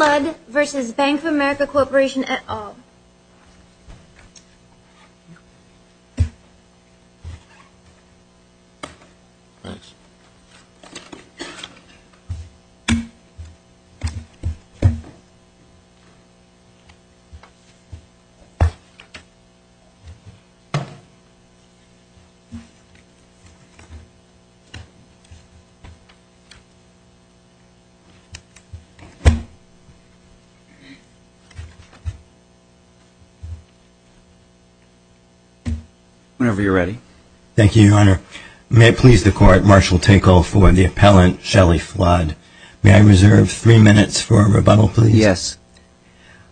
at all. May I please the court, Marshall Tinkle for the appellant, Shelley Flood. May I reserve three minutes for a rebuttal, please? Yes.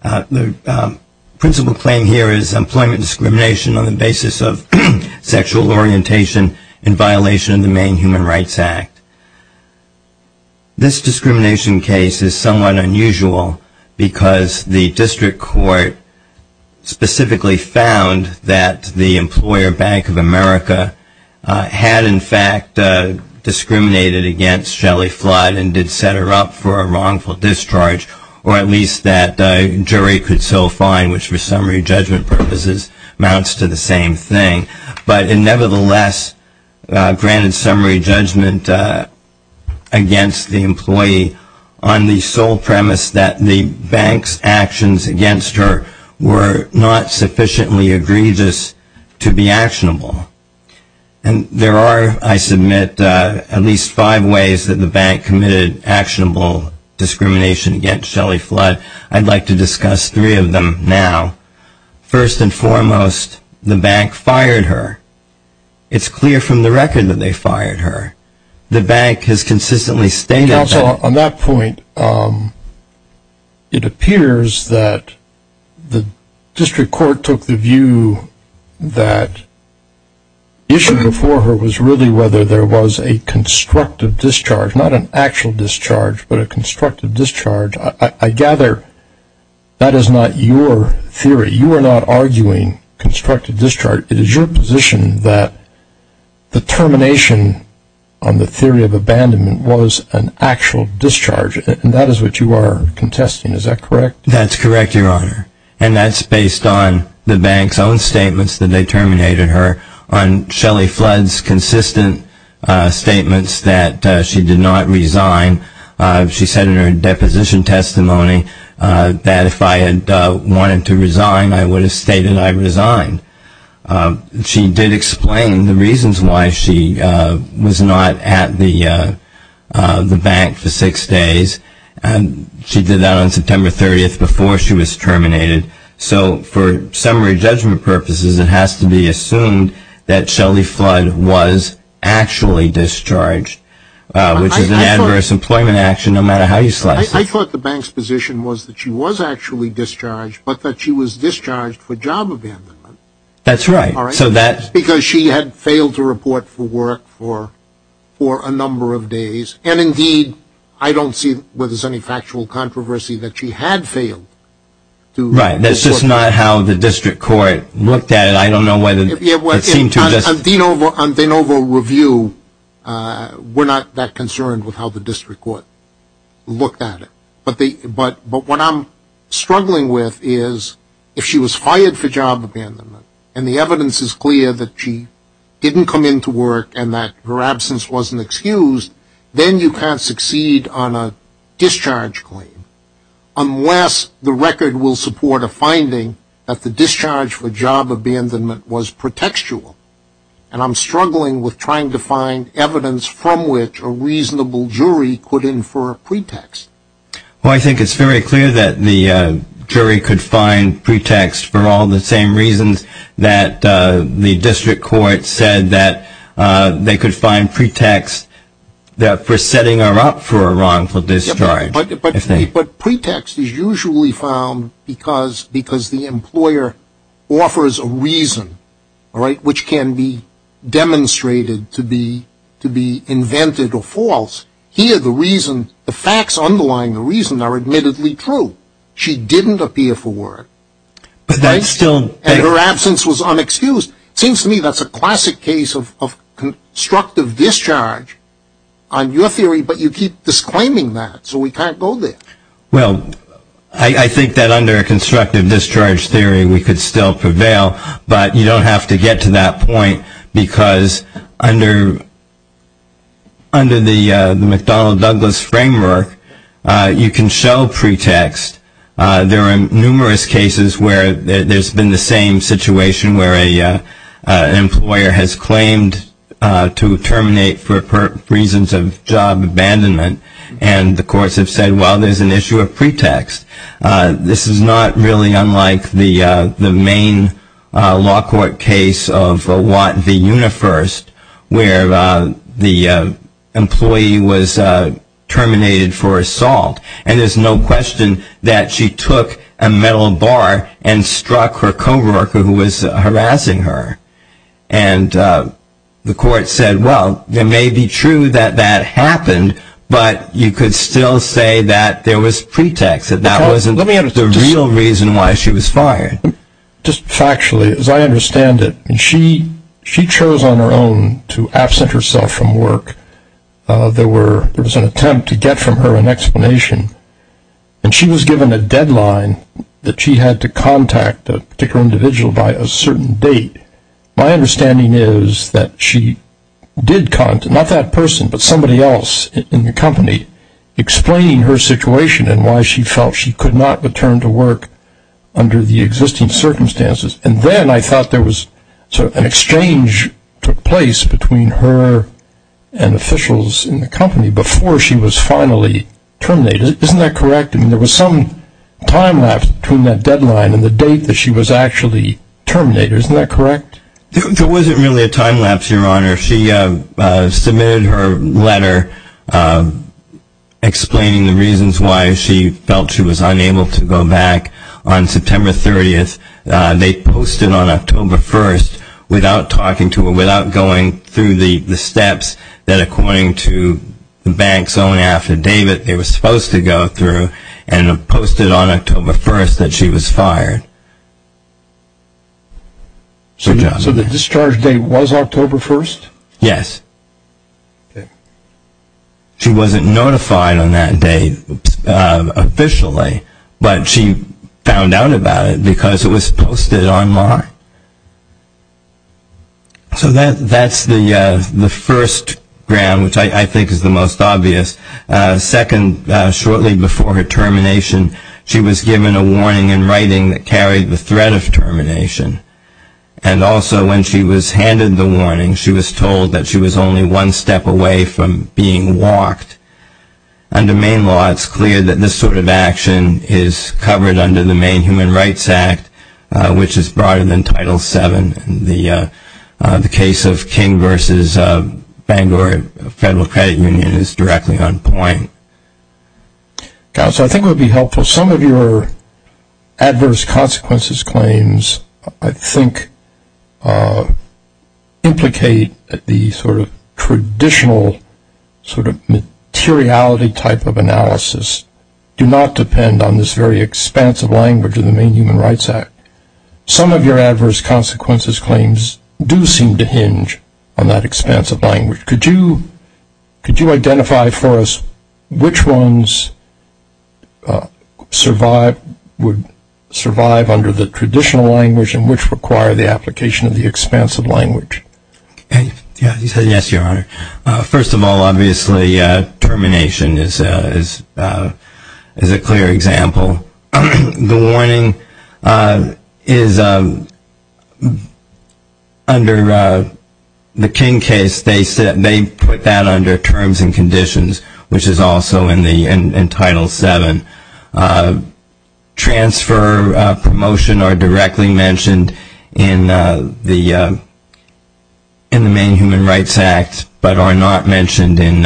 The principal claim here is employment discrimination on the basis of sexual orientation in violation of the Maine Human Rights Act. This discrimination case is somewhat unusual because the district court specifically found that the employer, Bank of America, had in fact discriminated against Shelley Flood and did set her up for a wrongful discharge, or at least that jury could so find, which for summary judgment purposes amounts to the same thing. But nevertheless, granted summary judgment against the employee on the sole premise that the bank's actions against her were not sufficiently egregious to be actionable. And there are, I submit, at least five ways that the bank committed actionable discrimination against Shelley Flood. I'd like to discuss three of them now. First and foremost, the bank fired her. It's clear from the record that they fired her. The bank has consistently stated Counsel, on that point, it appears that the district court took the view that the issue before her was really whether there was a constructive discharge, not an actual discharge, but a constructive discharge. I gather that is not your theory. You are not arguing constructive discharge. It is your position that the termination on the theory of abandonment was an actual discharge, and that is what you are contesting. Is that correct? That's correct, Your Honor. And that's based on the bank's own statements that they terminated her, on Shelley Flood's consistent statements that she did not resign. She said in her deposition testimony that if I had wanted to resign, I would have stated I resigned. She did explain the reasons why she was not at the bank for six days, and she did that on September 30th before she was terminated. So for summary judgment purposes, it has to be assumed that Shelley Flood was actually discharged, which is an adverse employment action no matter how you slice it. I thought the bank's position was that she was actually discharged, but that she was discharged for job abandonment. That's right. Because she had failed to report for work for a number of days, and indeed, I don't see whether there is any factual controversy that she had failed to report for work. Right. That's just not how the district court looked at it. I don't know whether it seemed to have just... On De Novo Review, we're not that concerned with how the district court looked at it. But what I'm struggling with is if she was fired for job abandonment, and the evidence is clear that she didn't come into work and that her absence wasn't excused, then you can't And I'm struggling with trying to find evidence from which a reasonable jury could infer a pretext. Well, I think it's very clear that the jury could find pretext for all the same reasons that the district court said that they could find pretext for setting her up for a wrongful discharge. But pretext is usually found because the employer offers a reason, which can be demonstrated to be invented or false. Here, the reason, the facts underlying the reason are admittedly true. She didn't appear for work. But that's still... And her absence was unexcused. It seems to me that's a classic case of constructive discharge on your theory, but you keep disclaiming that. So we can't go there. Well, I think that under a constructive discharge theory, we could still prevail. But you don't have to get to that point because under the McDonnell-Douglas framework, you can show pretext. There are numerous cases where there's been the same situation where an employer has claimed to terminate for reasons of job abandonment. And the courts have said, well, there's an issue of pretext. This is not really unlike the main law court case of Watt v. Unifirst, where the employee was terminated for assault. And there's no question that she took a metal bar and struck her co-worker who was harassing her. And the court said, well, it may be true that that happened, but you could still say that there was pretext, that that wasn't the real reason why she was fired. Just factually, as I understand it, she chose on her own to absent herself from work. There was an attempt to get from her an explanation. And she was given a deadline that she had to contact a particular individual by a certain date. My understanding is that she did contact, not that person, but somebody else in the company, explaining her situation and why she felt she could not return to work under the existing circumstances. And then I thought there was sort of an exchange took place between her and officials in the company before she was finally terminated. Isn't that correct? I mean, there was some time lapse between that deadline and the date that she was actually terminated. Isn't that correct? There wasn't really a time lapse, Your Honor. She submitted her letter explaining the reasons why she felt she was unable to go back on September 30th. They posted on October 1st, without talking to her, without going through the steps, that according to the banks only after David they were supposed to go through, and posted on October 1st that she was fired. So the discharge date was October 1st? Yes. She wasn't notified on that date officially, but she found out about it because it was posted online. So that's the first ground, which I think is the most obvious. Second, shortly before her termination, she was given a warning in writing that carried the threat of termination. And also when she was handed the warning, she was told that she was only one step away from being walked. Under Maine law, it's clear that this sort of action is covered under the Maine Human Rights Act, which is broader than Title VII. The case of King v. Bangor Federal Credit Union is directly on point. Counsel, I think it would be helpful, some of your adverse consequences claims, I think implicate the sort of traditional sort of materiality type of analysis, do not depend on this very expansive language of the Maine Human Rights Act. Some of your adverse consequences claims do seem to hinge on that expansive language. Could you identify for us which ones survive, would survive under the traditional language and which require the application of the expansive language? Yes, Your Honor. First of all, obviously, termination is a clear example. The warning is under the King case. They put that under terms and conditions, which is also in Title VII. Transfer, promotion are directly mentioned in the Maine Human Rights Act, but are not mentioned in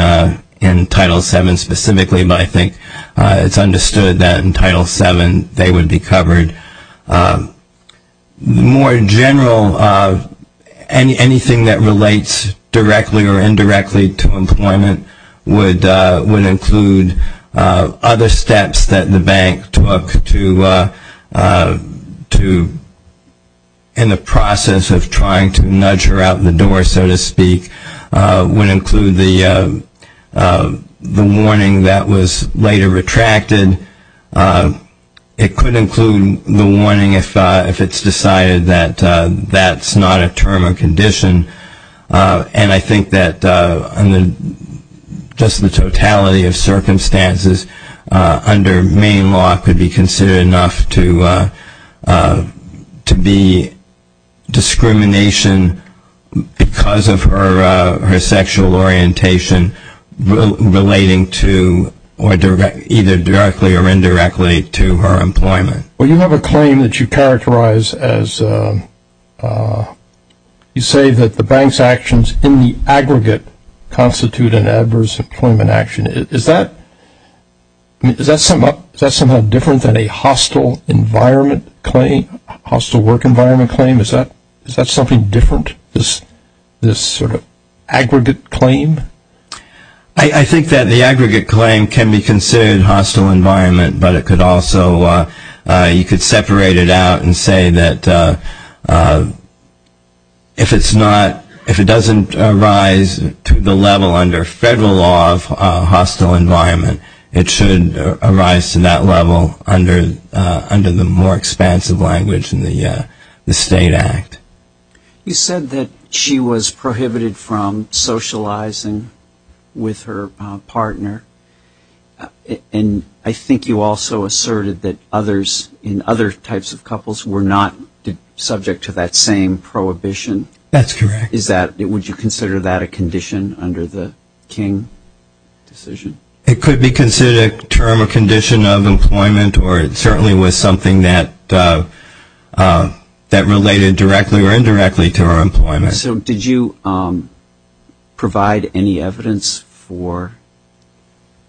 Title VII specifically, but I think it's understood that in Title VII they would be covered. More in general, anything that relates directly or indirectly to employment would include other steps that the bank took to, in the process of trying to nudge her out the door, so to speak, would include the warning that was later retracted. It could include the warning if it's decided that that's not a term or condition, and I think that just the totality of circumstances under Maine law could be considered enough to be discrimination because of her sexual orientation relating to, either directly or indirectly, to her employment. Well, you have a claim that you characterize as, you say that the bank's actions in the aggregate constitute an adverse employment action. Is that somehow different than a hostile environment claim, hostile work environment claim? Is that something different, this sort of aggregate claim? I think that the aggregate claim can be considered hostile environment, but it could also, you could separate it out and say that if it's not, if it doesn't arise to the level under federal law of hostile environment, it should arise to that level under the more expansive language in the state act. You said that she was prohibited from socializing with her partner, and I think you also asserted that others, in other types of couples, were not subject to that same prohibition. That's correct. Is that, would you consider that a condition under the King decision? It could be considered a term or condition of employment, or it certainly was something that related directly or indirectly to her employment. So did you provide any evidence for,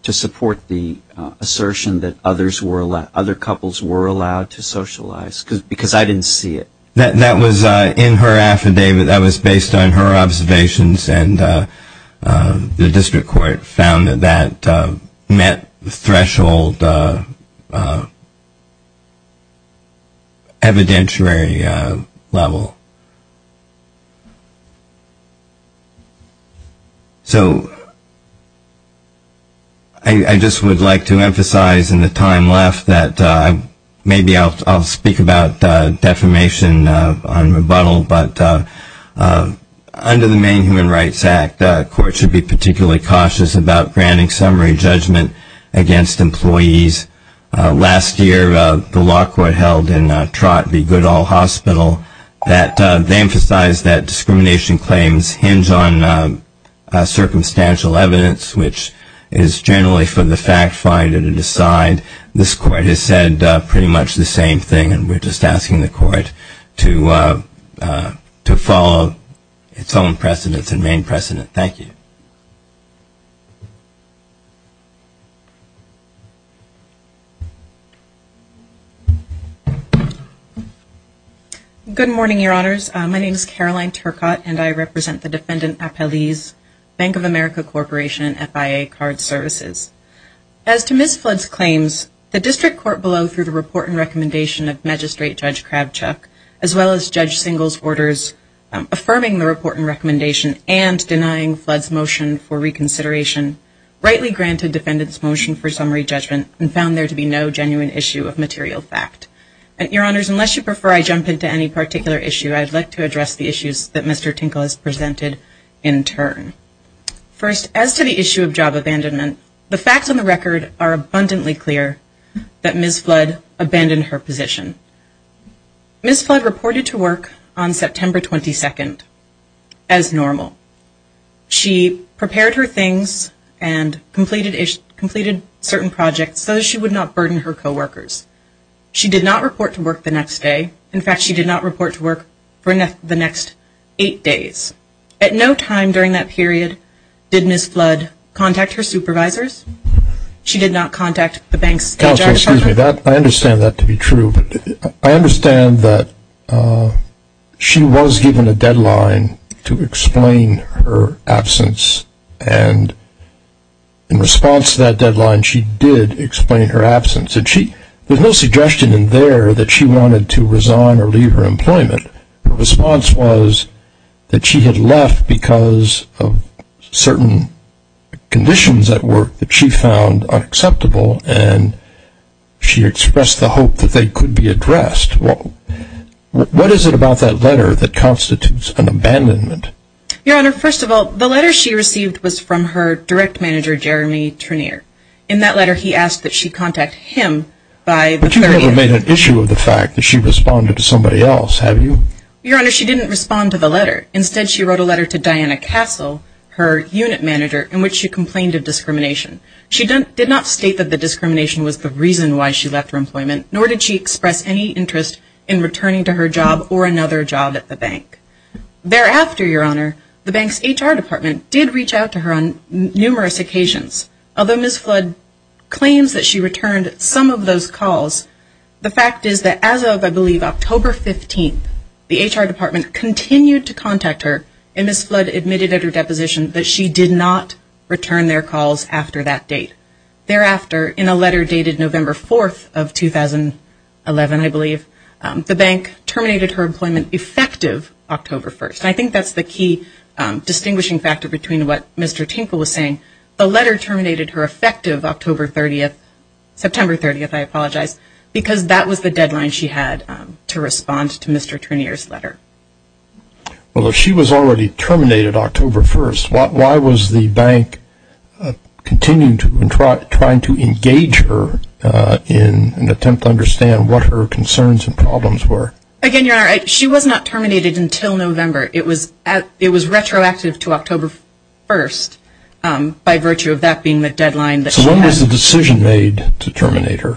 to support the assertion that other couples were allowed to socialize? Because I didn't see it. That was in her affidavit. That was based on her observations, and the district court found that that met the threshold evidentiary level. So I just would like to emphasize in the time left that maybe I'll speak about defamation on rebuttal, but under the main Human Rights Act, courts should be particularly cautious about granting summary judgment against employees. Last year, the law court held in Trott v. Goodall Hospital that they emphasized that discrimination claims hinge on circumstantial evidence, which is generally for the fact finder to decide. This court has said pretty much the same thing, and we're just asking the court to follow its own precedents and main precedent. Thank you. Good morning, Your Honors. My name is Caroline Turcotte, and I represent the Defendant Appellee's Bank of America Corporation and FIA Card Services. As to Ms. Flood's claims, the district court below, through the report and recommendation of Magistrate Judge Kravchuk, as well as Judge Singel's orders affirming the report and recommendation and denying Flood's motion, rightly granted Defendant's motion for summary judgment and found there to be no genuine issue of material fact. And, Your Honors, unless you prefer I jump into any particular issue, I'd like to address the issues that Mr. Tinkle has presented in turn. First, as to the issue of job abandonment, the facts on the record are abundantly clear that Ms. Flood abandoned her position. Ms. Flood reported to work on September 22nd as normal. She prepared her things and completed certain projects so that she would not burden her co-workers. She did not report to work the next day. In fact, she did not report to work for the next eight days. At no time during that period did Ms. Flood contact her supervisors. She did not contact the bank's... Counselor, excuse me. I understand that to be true. I understand that she was given a deadline to explain her absence and in response to that deadline she did explain her absence. There's no suggestion in there that she wanted to resign or leave her employment. Her response was that she had left because of certain conditions at work that she found unacceptable and she expressed the hope that they could be addressed. What is it about that letter that constitutes an abandonment? Your Honor, first of all, the letter she received was from her direct manager, Jeremy Trenier. In that letter he asked that she contact him by the... But you never made an issue of the fact that she responded to somebody else, have you? Your Honor, she didn't respond to the letter. Instead, she wrote a letter to Diana Castle, her unit manager, in which she complained of discrimination. She did not state that the discrimination was the reason why she left her employment nor did she express any interest in returning to her job or another job at the bank. Thereafter, Your Honor, the bank's HR department did reach out to her on numerous occasions. Although Ms. Flood claims that she returned some of those calls, the fact is that as of, I believe, October 15th, the HR department continued to contact her and Ms. Flood admitted at her deposition that she did not return their calls after that date. Thereafter, in a letter dated November 4th of 2011, I believe, the bank terminated her employment effective October 1st. I think that's the key distinguishing factor between what Mr. Tinkle was saying. The letter terminated her effective October 30th, September 30th, I apologize, because that was the deadline she had to respond to Mr. Trenier's letter. Well, if she was already terminated October 1st, why was the bank continuing to try to engage her in an attempt to understand what her concerns and problems were? Again, Your Honor, she was not terminated until November. It was retroactive to October 1st by virtue of that being the deadline that she had. So when was the decision made to terminate her?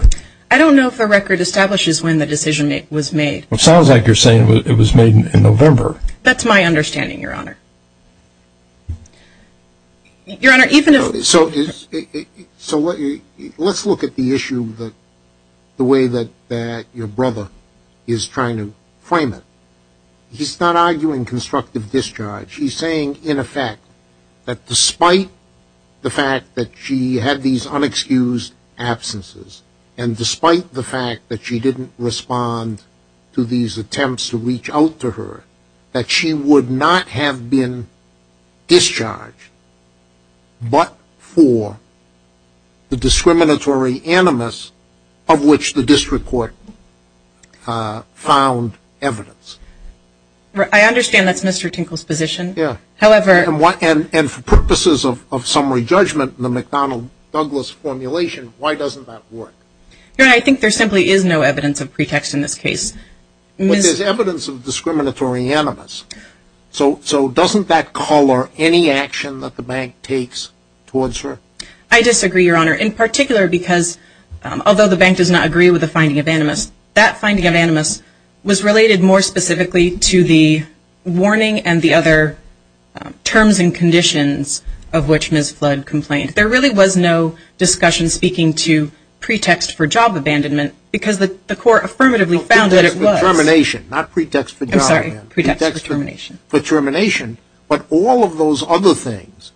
I don't know if the record establishes when the decision was made. It sounds like you're saying it was made in November. That's my understanding, Your Honor. So let's look at the issue the way that your brother is trying to frame it. He's not arguing constructive discharge. He's saying, in effect, that despite the fact that she had these unexcused absences, and despite the fact that she didn't respond to these attempts to reach out to her, that she would not have been discharged but for the discriminatory animus of which the district court found evidence. I understand that's Mr. Tinkle's position. Yeah. And for purposes of summary judgment in the McDonnell-Douglas formulation, why doesn't that work? Your Honor, I think there simply is no evidence of pretext in this case. But there's evidence of discriminatory animus. So doesn't that color any action that the bank takes towards her? I disagree, Your Honor, in particular because although the bank does not agree with the finding of animus, that finding of animus was related more specifically to the warning and the other terms and conditions of which Ms. Flood complained. There really was no discussion speaking to pretext for job abandonment because the court affirmatively found that it was. No, pretext for termination, not pretext for job abandonment. I'm sorry, pretext for termination. For termination, but all of those other things.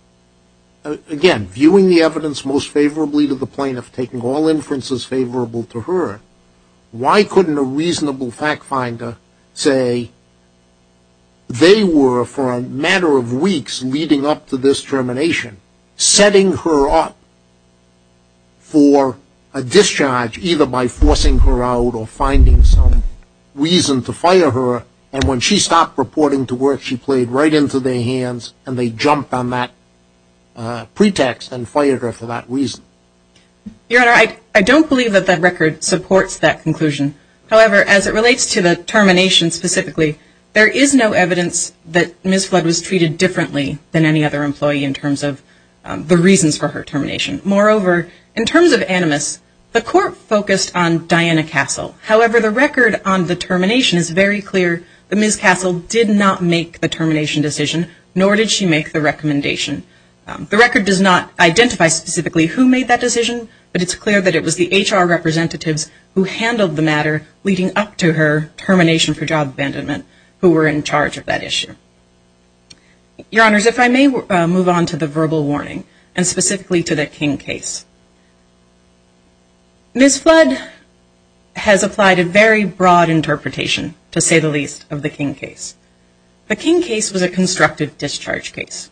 Again, viewing the evidence most favorably to the plaintiff, taking all inferences favorable to her, why couldn't a reasonable fact finder say they were, for a matter of weeks leading up to this termination, setting her up for a discharge, either by forcing her out or finding some reason to fire her, and when she stopped reporting to work, she played right into their hands, and they jumped on that pretext and fired her for that reason? Your Honor, I don't believe that that record supports that conclusion. However, as it relates to the termination specifically, there is no evidence that Ms. Flood was treated differently than any other employee in terms of the reasons for her termination. Moreover, in terms of animus, the court focused on Diana Castle. However, the record on the termination is very clear that Ms. Castle did not make the termination decision, nor did she make the recommendation. The record does not identify specifically who made that decision, but it's clear that it was the HR representatives who handled the matter leading up to her termination for job abandonment who were in charge of that issue. Your Honors, if I may move on to the verbal warning, and specifically to the King case. Ms. Flood has applied a very broad interpretation, to say the least, of the King case. The King case was a constructive discharge case,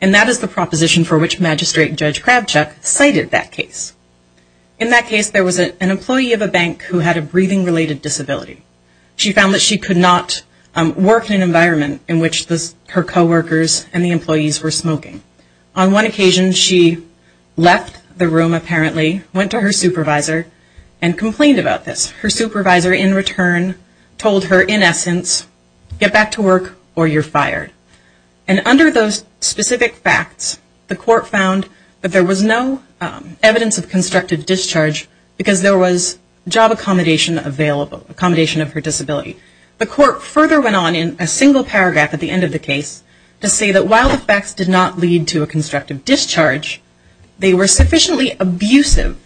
and that is the proposition for which Magistrate Judge Kravchuk cited that case. In that case, there was an employee of a bank who had a breathing-related disability. She found that she could not work in an environment in which her coworkers and the employees were smoking. On one occasion, she left the room, apparently, went to her supervisor, and complained about this. Her supervisor, in return, told her, in essence, get back to work or you're fired. And under those specific facts, the court found that there was no evidence of constructive discharge because there was job accommodation available, accommodation of her disability. The court further went on in a single paragraph at the end of the case to say that while the facts did not lead to a constructive discharge, they were sufficiently abusive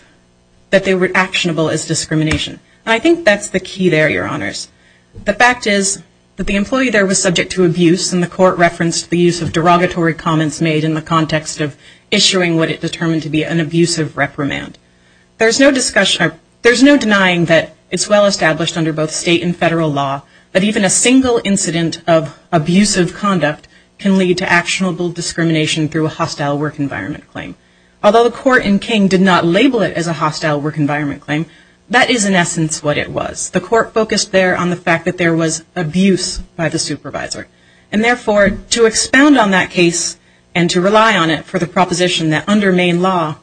that they were actionable as discrimination. And I think that's the key there, Your Honors. The fact is that the employee there was subject to abuse, and the court referenced the use of derogatory comments made in the context of issuing what it determined to be an abusive reprimand. There's no denying that it's well-established under both state and federal law that even a single incident of abusive conduct can lead to actionable discrimination through a hostile work environment claim. Although the court in King did not label it as a hostile work environment claim, that is, in essence, what it was. The court focused there on the fact that there was abuse by the supervisor. And therefore, to expound on that case and to rely on it for the proposition that under Maine law,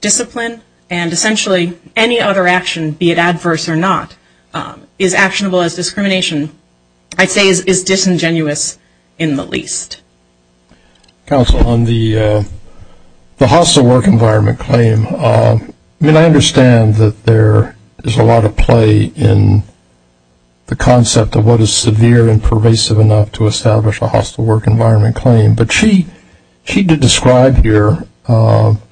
discipline and essentially any other action, be it adverse or not, is actionable as discrimination, I'd say is disingenuous in the least. Counsel, on the hostile work environment claim, I mean I understand that there is a lot of play in the concept of what is severe and pervasive enough to establish a hostile work environment claim. But she did describe here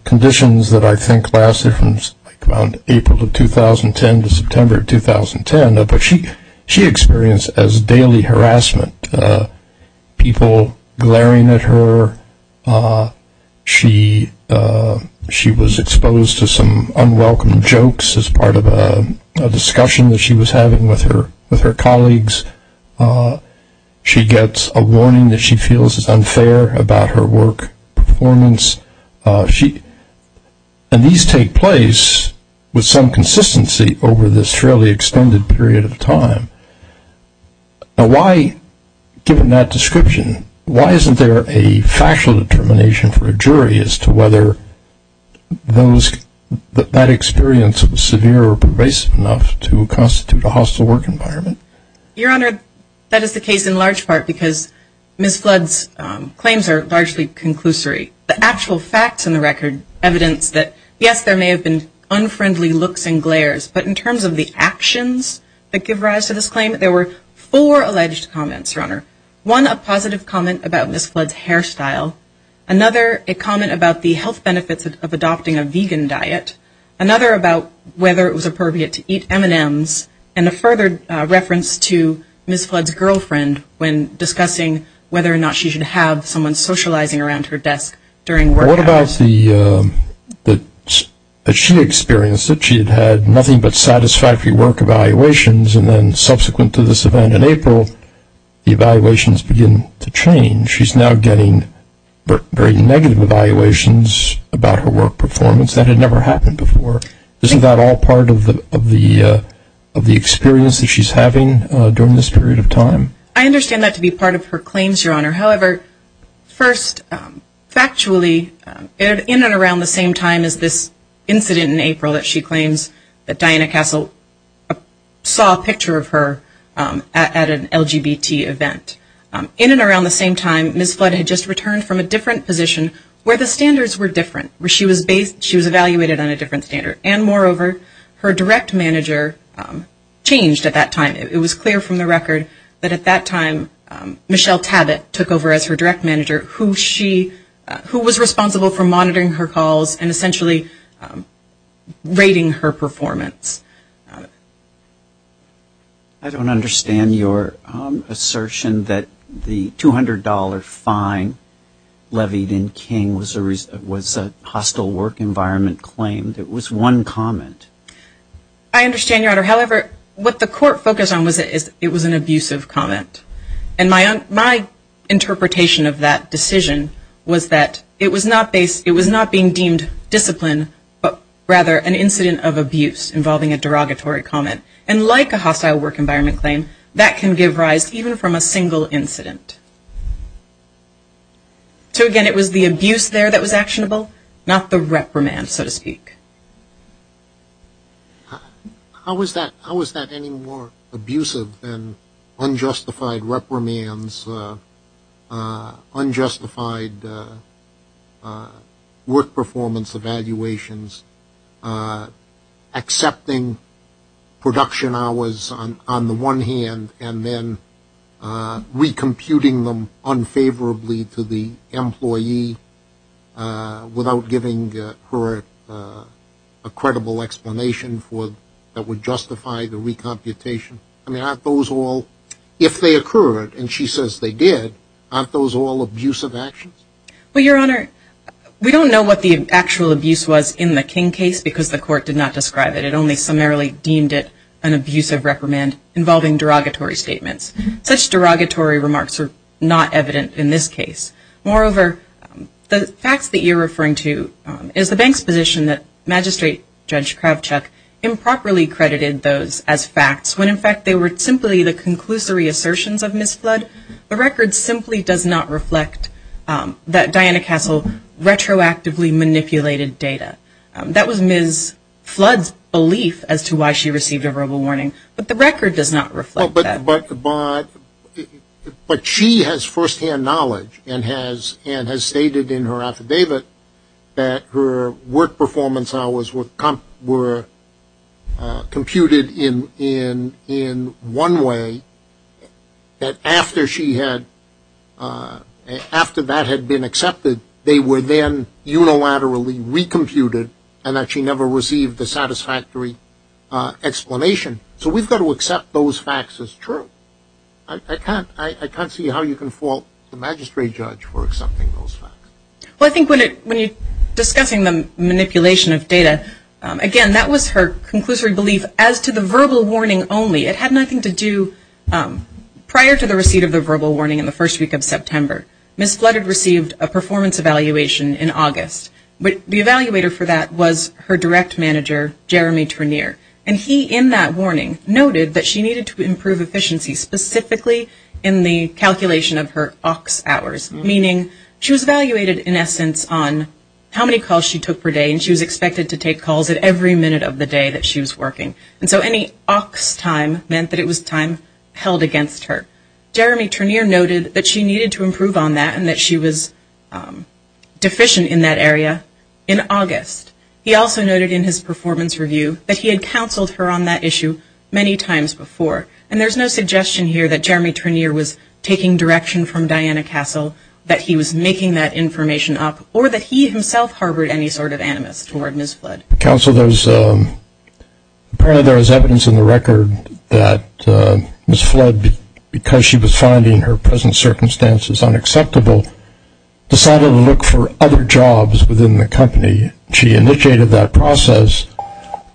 conditions that I think lasted from like around April of 2010 to September of 2010. But she experienced as daily harassment, people glaring at her. She was exposed to some unwelcome jokes as part of a discussion that she was having with her colleagues. She gets a warning that she feels is unfair about her work performance. And these take place with some consistency over this fairly extended period of time. Now why, given that description, why isn't there a factual determination for a jury as to whether that experience was severe or pervasive enough to constitute a hostile work environment? Your Honor, that is the case in large part because Ms. Flood's claims are largely conclusory. The actual facts in the record evidence that yes, there may have been unfriendly looks and glares. But in terms of the actions that give rise to this claim, there were four alleged comments, Your Honor. One, a positive comment about Ms. Flood's hairstyle. Another, a comment about the health benefits of adopting a vegan diet. Another, about whether it was appropriate to eat M&Ms. And a further reference to Ms. Flood's girlfriend when discussing whether or not she should have someone socializing around her desk during work hours. What about the, that she experienced, that she had had nothing but satisfactory work evaluations, and then subsequent to this event in April, the evaluations begin to change. She's now getting very negative evaluations about her work performance. That had never happened before. Isn't that all part of the experience that she's having during this period of time? I understand that to be part of her claims, Your Honor. However, first, factually, in and around the same time as this incident in April that she claims that Diana Castle saw a picture of her at an LGBT event. In and around the same time, Ms. Flood had just returned from a different position where the standards were different. Where she was based, she was evaluated on a different standard. And moreover, her direct manager changed at that time. It was clear from the record that at that time Michelle Tabet took over as her direct manager, who she, who was responsible for monitoring her calls and essentially rating her performance. I don't understand your assertion that the $200 fine levied in King was a hostile work environment claim. It was one comment. I understand, Your Honor. However, what the court focused on was it was an abusive comment. And my interpretation of that decision was that it was not being deemed discipline, but rather an incident of abuse involving a derogatory comment. And like a hostile work environment claim, that can give rise even from a single incident. So, again, it was the abuse there that was actionable, not the reprimand, so to speak. How was that any more abusive than unjustified reprimands, unjustified work performance evaluations, accepting production hours on the one hand and then re-computing them unfavorably to the employee without giving her a credible explanation that would justify the re-computation? I mean, aren't those all? If they occurred, and she says they did, aren't those all abusive actions? Well, Your Honor, we don't know what the actual abuse was in the King case because the court did not describe it. It only summarily deemed it an abusive reprimand involving derogatory statements. Such derogatory remarks are not evident in this case. Moreover, the facts that you're referring to is the bank's position that Magistrate Judge Kravchuk improperly credited those as facts when in fact they were simply the conclusory assertions of Ms. Flood. The record simply does not reflect that Diana Castle retroactively manipulated data. That was Ms. Flood's belief as to why she received a verbal warning, but the record does not reflect that. But she has firsthand knowledge and has stated in her affidavit that her work performance hours were computed in one way, that after that had been accepted, they were then unilaterally re-computed and that she never received a satisfactory explanation. So we've got to accept those facts as true. I can't see how you can fault the Magistrate Judge for accepting those facts. Well, I think when you're discussing the manipulation of data, again, that was her conclusory belief as to the verbal warning only. It had nothing to do prior to the receipt of the verbal warning in the first week of September. Ms. Flood had received a performance evaluation in August, but the evaluator for that was her direct manager, Jeremy Trenier, and he in that warning noted that she needed to improve efficiency specifically in the calculation of her AUX hours, meaning she was evaluated in essence on how many calls she took per day and she was expected to take calls at every minute of the day that she was working. And so any AUX time meant that it was time held against her. Jeremy Trenier noted that she needed to improve on that and that she was deficient in that area in August. He also noted in his performance review that he had counseled her on that issue many times before. And there's no suggestion here that Jeremy Trenier was taking direction from Diana Castle, that he was making that information up, or that he himself harbored any sort of animus toward Ms. Flood. Counsel, apparently there is evidence in the record that Ms. Flood, because she was finding her present circumstances unacceptable, decided to look for other jobs within the company. She initiated that process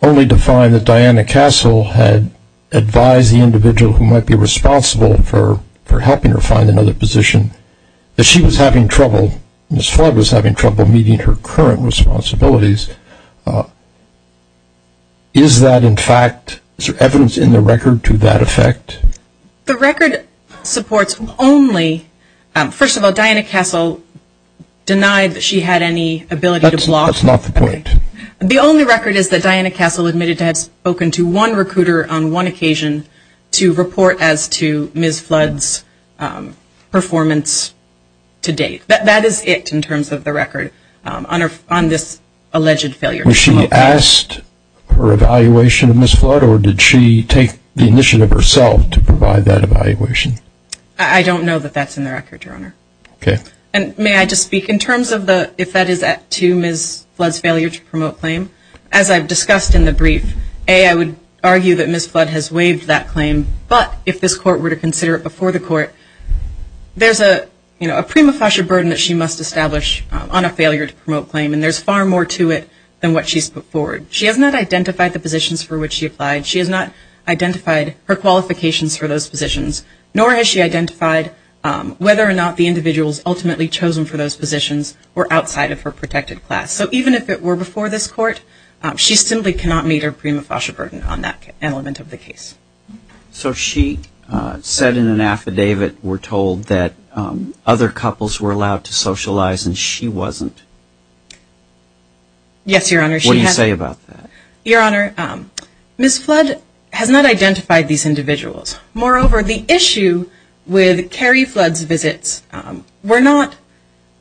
only to find that Diana Castle had advised the individual who might be responsible for helping her find another position that she was having trouble, Ms. Flood was having trouble meeting her current responsibilities. Is that in fact, is there evidence in the record to that effect? The record supports only, first of all, The only record is that Diana Castle admitted to have spoken to one recruiter on one occasion to report as to Ms. Flood's performance to date. That is it in terms of the record on this alleged failure. Was she asked for evaluation of Ms. Flood, or did she take the initiative herself to provide that evaluation? I don't know that that's in the record, Your Honor. Okay. And may I just speak in terms of the, if that is to Ms. Flood's failure to promote claim, as I've discussed in the brief, A, I would argue that Ms. Flood has waived that claim, but if this court were to consider it before the court, there's a prima facie burden that she must establish on a failure to promote claim, and there's far more to it than what she's put forward. She has not identified the positions for which she applied. She has not identified her qualifications for those positions, nor has she identified whether or not the individuals ultimately chosen for those positions were outside of her protected class. So even if it were before this court, she simply cannot meet her prima facie burden on that element of the case. So she said in an affidavit, we're told, that other couples were allowed to socialize and she wasn't. Yes, Your Honor. What do you say about that? Your Honor, Ms. Flood has not identified these individuals. Moreover, the issue with Carrie Flood's visits were not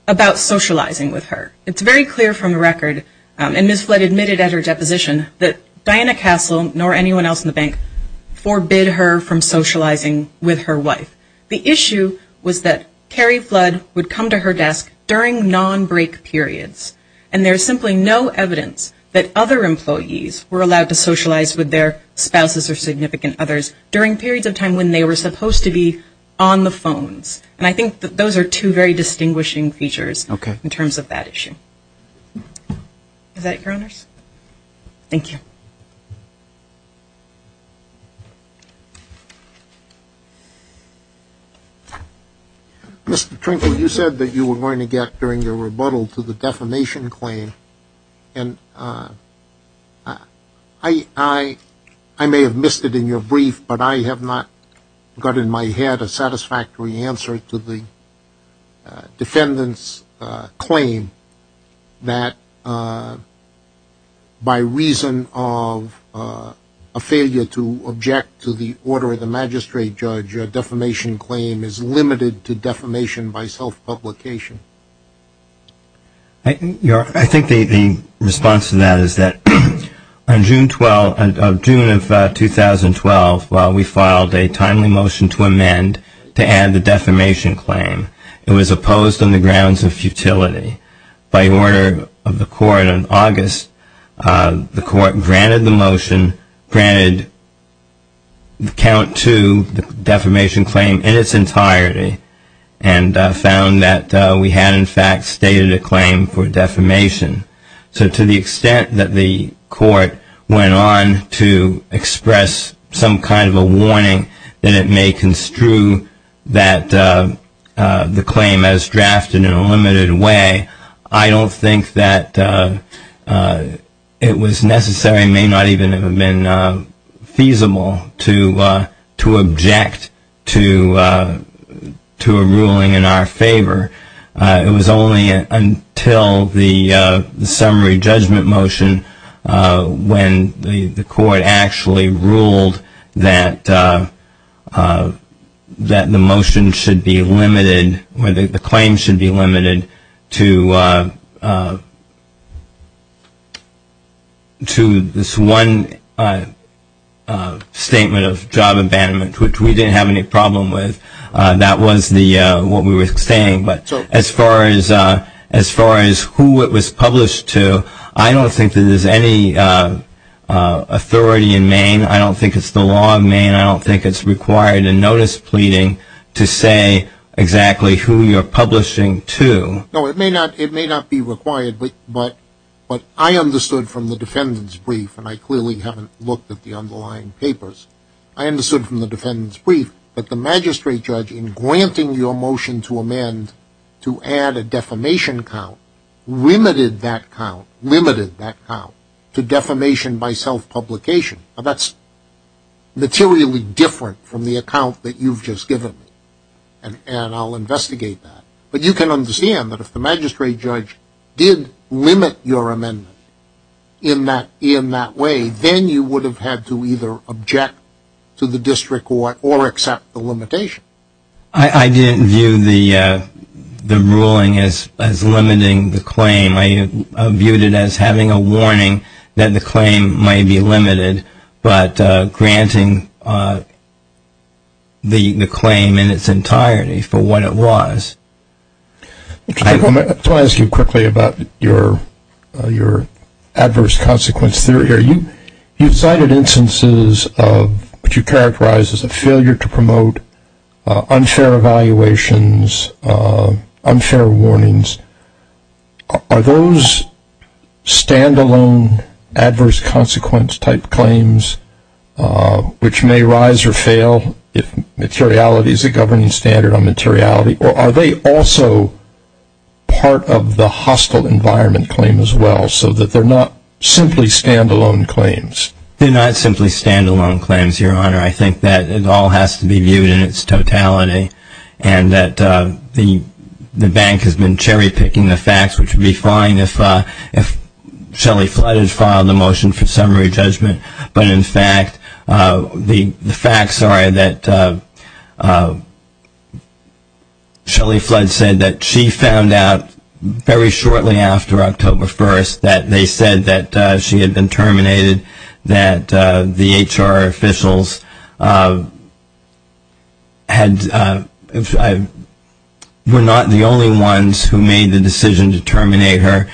about socializing with her. It's very clear from the record, and Ms. Flood admitted at her deposition, that Diana Castle, nor anyone else in the bank, forbid her from socializing with her wife. The issue was that Carrie Flood would come to her desk during non-break periods, and there's simply no evidence that other employees were allowed to socialize with their spouses or significant others during periods of time when they were supposed to be on the phones. And I think that those are two very distinguishing features in terms of that issue. Is that it, Your Honors? Thank you. Mr. Trinkle, you said that you were going to get, during your rebuttal, to the defamation claim. And I may have missed it in your brief, but I have not got in my head a satisfactory answer to the defendant's claim that, by reason of a failure to object to the order of the magistrate judge, a defamation claim is limited to defamation by self-publication. I think the response to that is that on June of 2012, while we filed a timely motion to amend to add the defamation claim, it was opposed on the grounds of futility. By order of the court in August, the court granted the motion, granted count to the defamation claim in its entirety, and found that we had, in fact, stated a claim for defamation. So to the extent that the court went on to express some kind of a warning that it may construe the claim as drafted in a limited way, I don't think that it was necessary, and may not even have been feasible, to object to a ruling in our favor. It was only until the summary judgment motion, when the court actually ruled that the motion should be limited, or that the claim should be limited to this one statement of job abandonment, which we didn't have any problem with. That was what we were saying. But as far as who it was published to, I don't think that there's any authority in Maine. I don't think it's the law of Maine. I don't think it's required in notice pleading to say exactly who you're publishing to. No, it may not be required, but I understood from the defendant's brief, and I clearly haven't looked at the underlying papers, I understood from the defendant's brief that the magistrate judge, in granting your motion to amend to add a defamation count, limited that count to defamation by self-publication. Now, that's materially different from the account that you've just given me, and I'll investigate that. But you can understand that if the magistrate judge did limit your amendment in that way, then you would have had to either object to the district court or accept the limitation. I didn't view the ruling as limiting the claim. I viewed it as having a warning that the claim may be limited, but granting the claim in its entirety for what it was. Let me ask you quickly about your adverse consequence theory. You've cited instances of what you characterize as a failure to promote unfair evaluations, unfair warnings. Are those stand-alone adverse consequence type claims, which may rise or fail, if materiality is a governing standard on materiality, or are they also part of the hostile environment claim as well, so that they're not simply stand-alone claims? I think that it all has to be viewed in its totality, and that the bank has been cherry-picking the facts, which would be fine if Shelley Flood had filed a motion for summary judgment. But, in fact, the facts are that Shelley Flood said that she found out very shortly after October 1st that they said that she had been terminated, that the HR officials were not the only ones who made the decision to terminate her.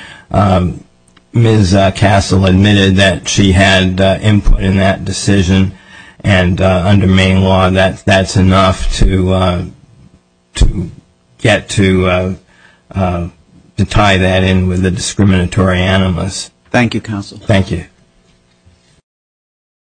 Ms. Castle admitted that she had input in that decision, and under Maine law that's enough to get to tie that in with the discriminatory animus. Thank you, Counsel. Thank you.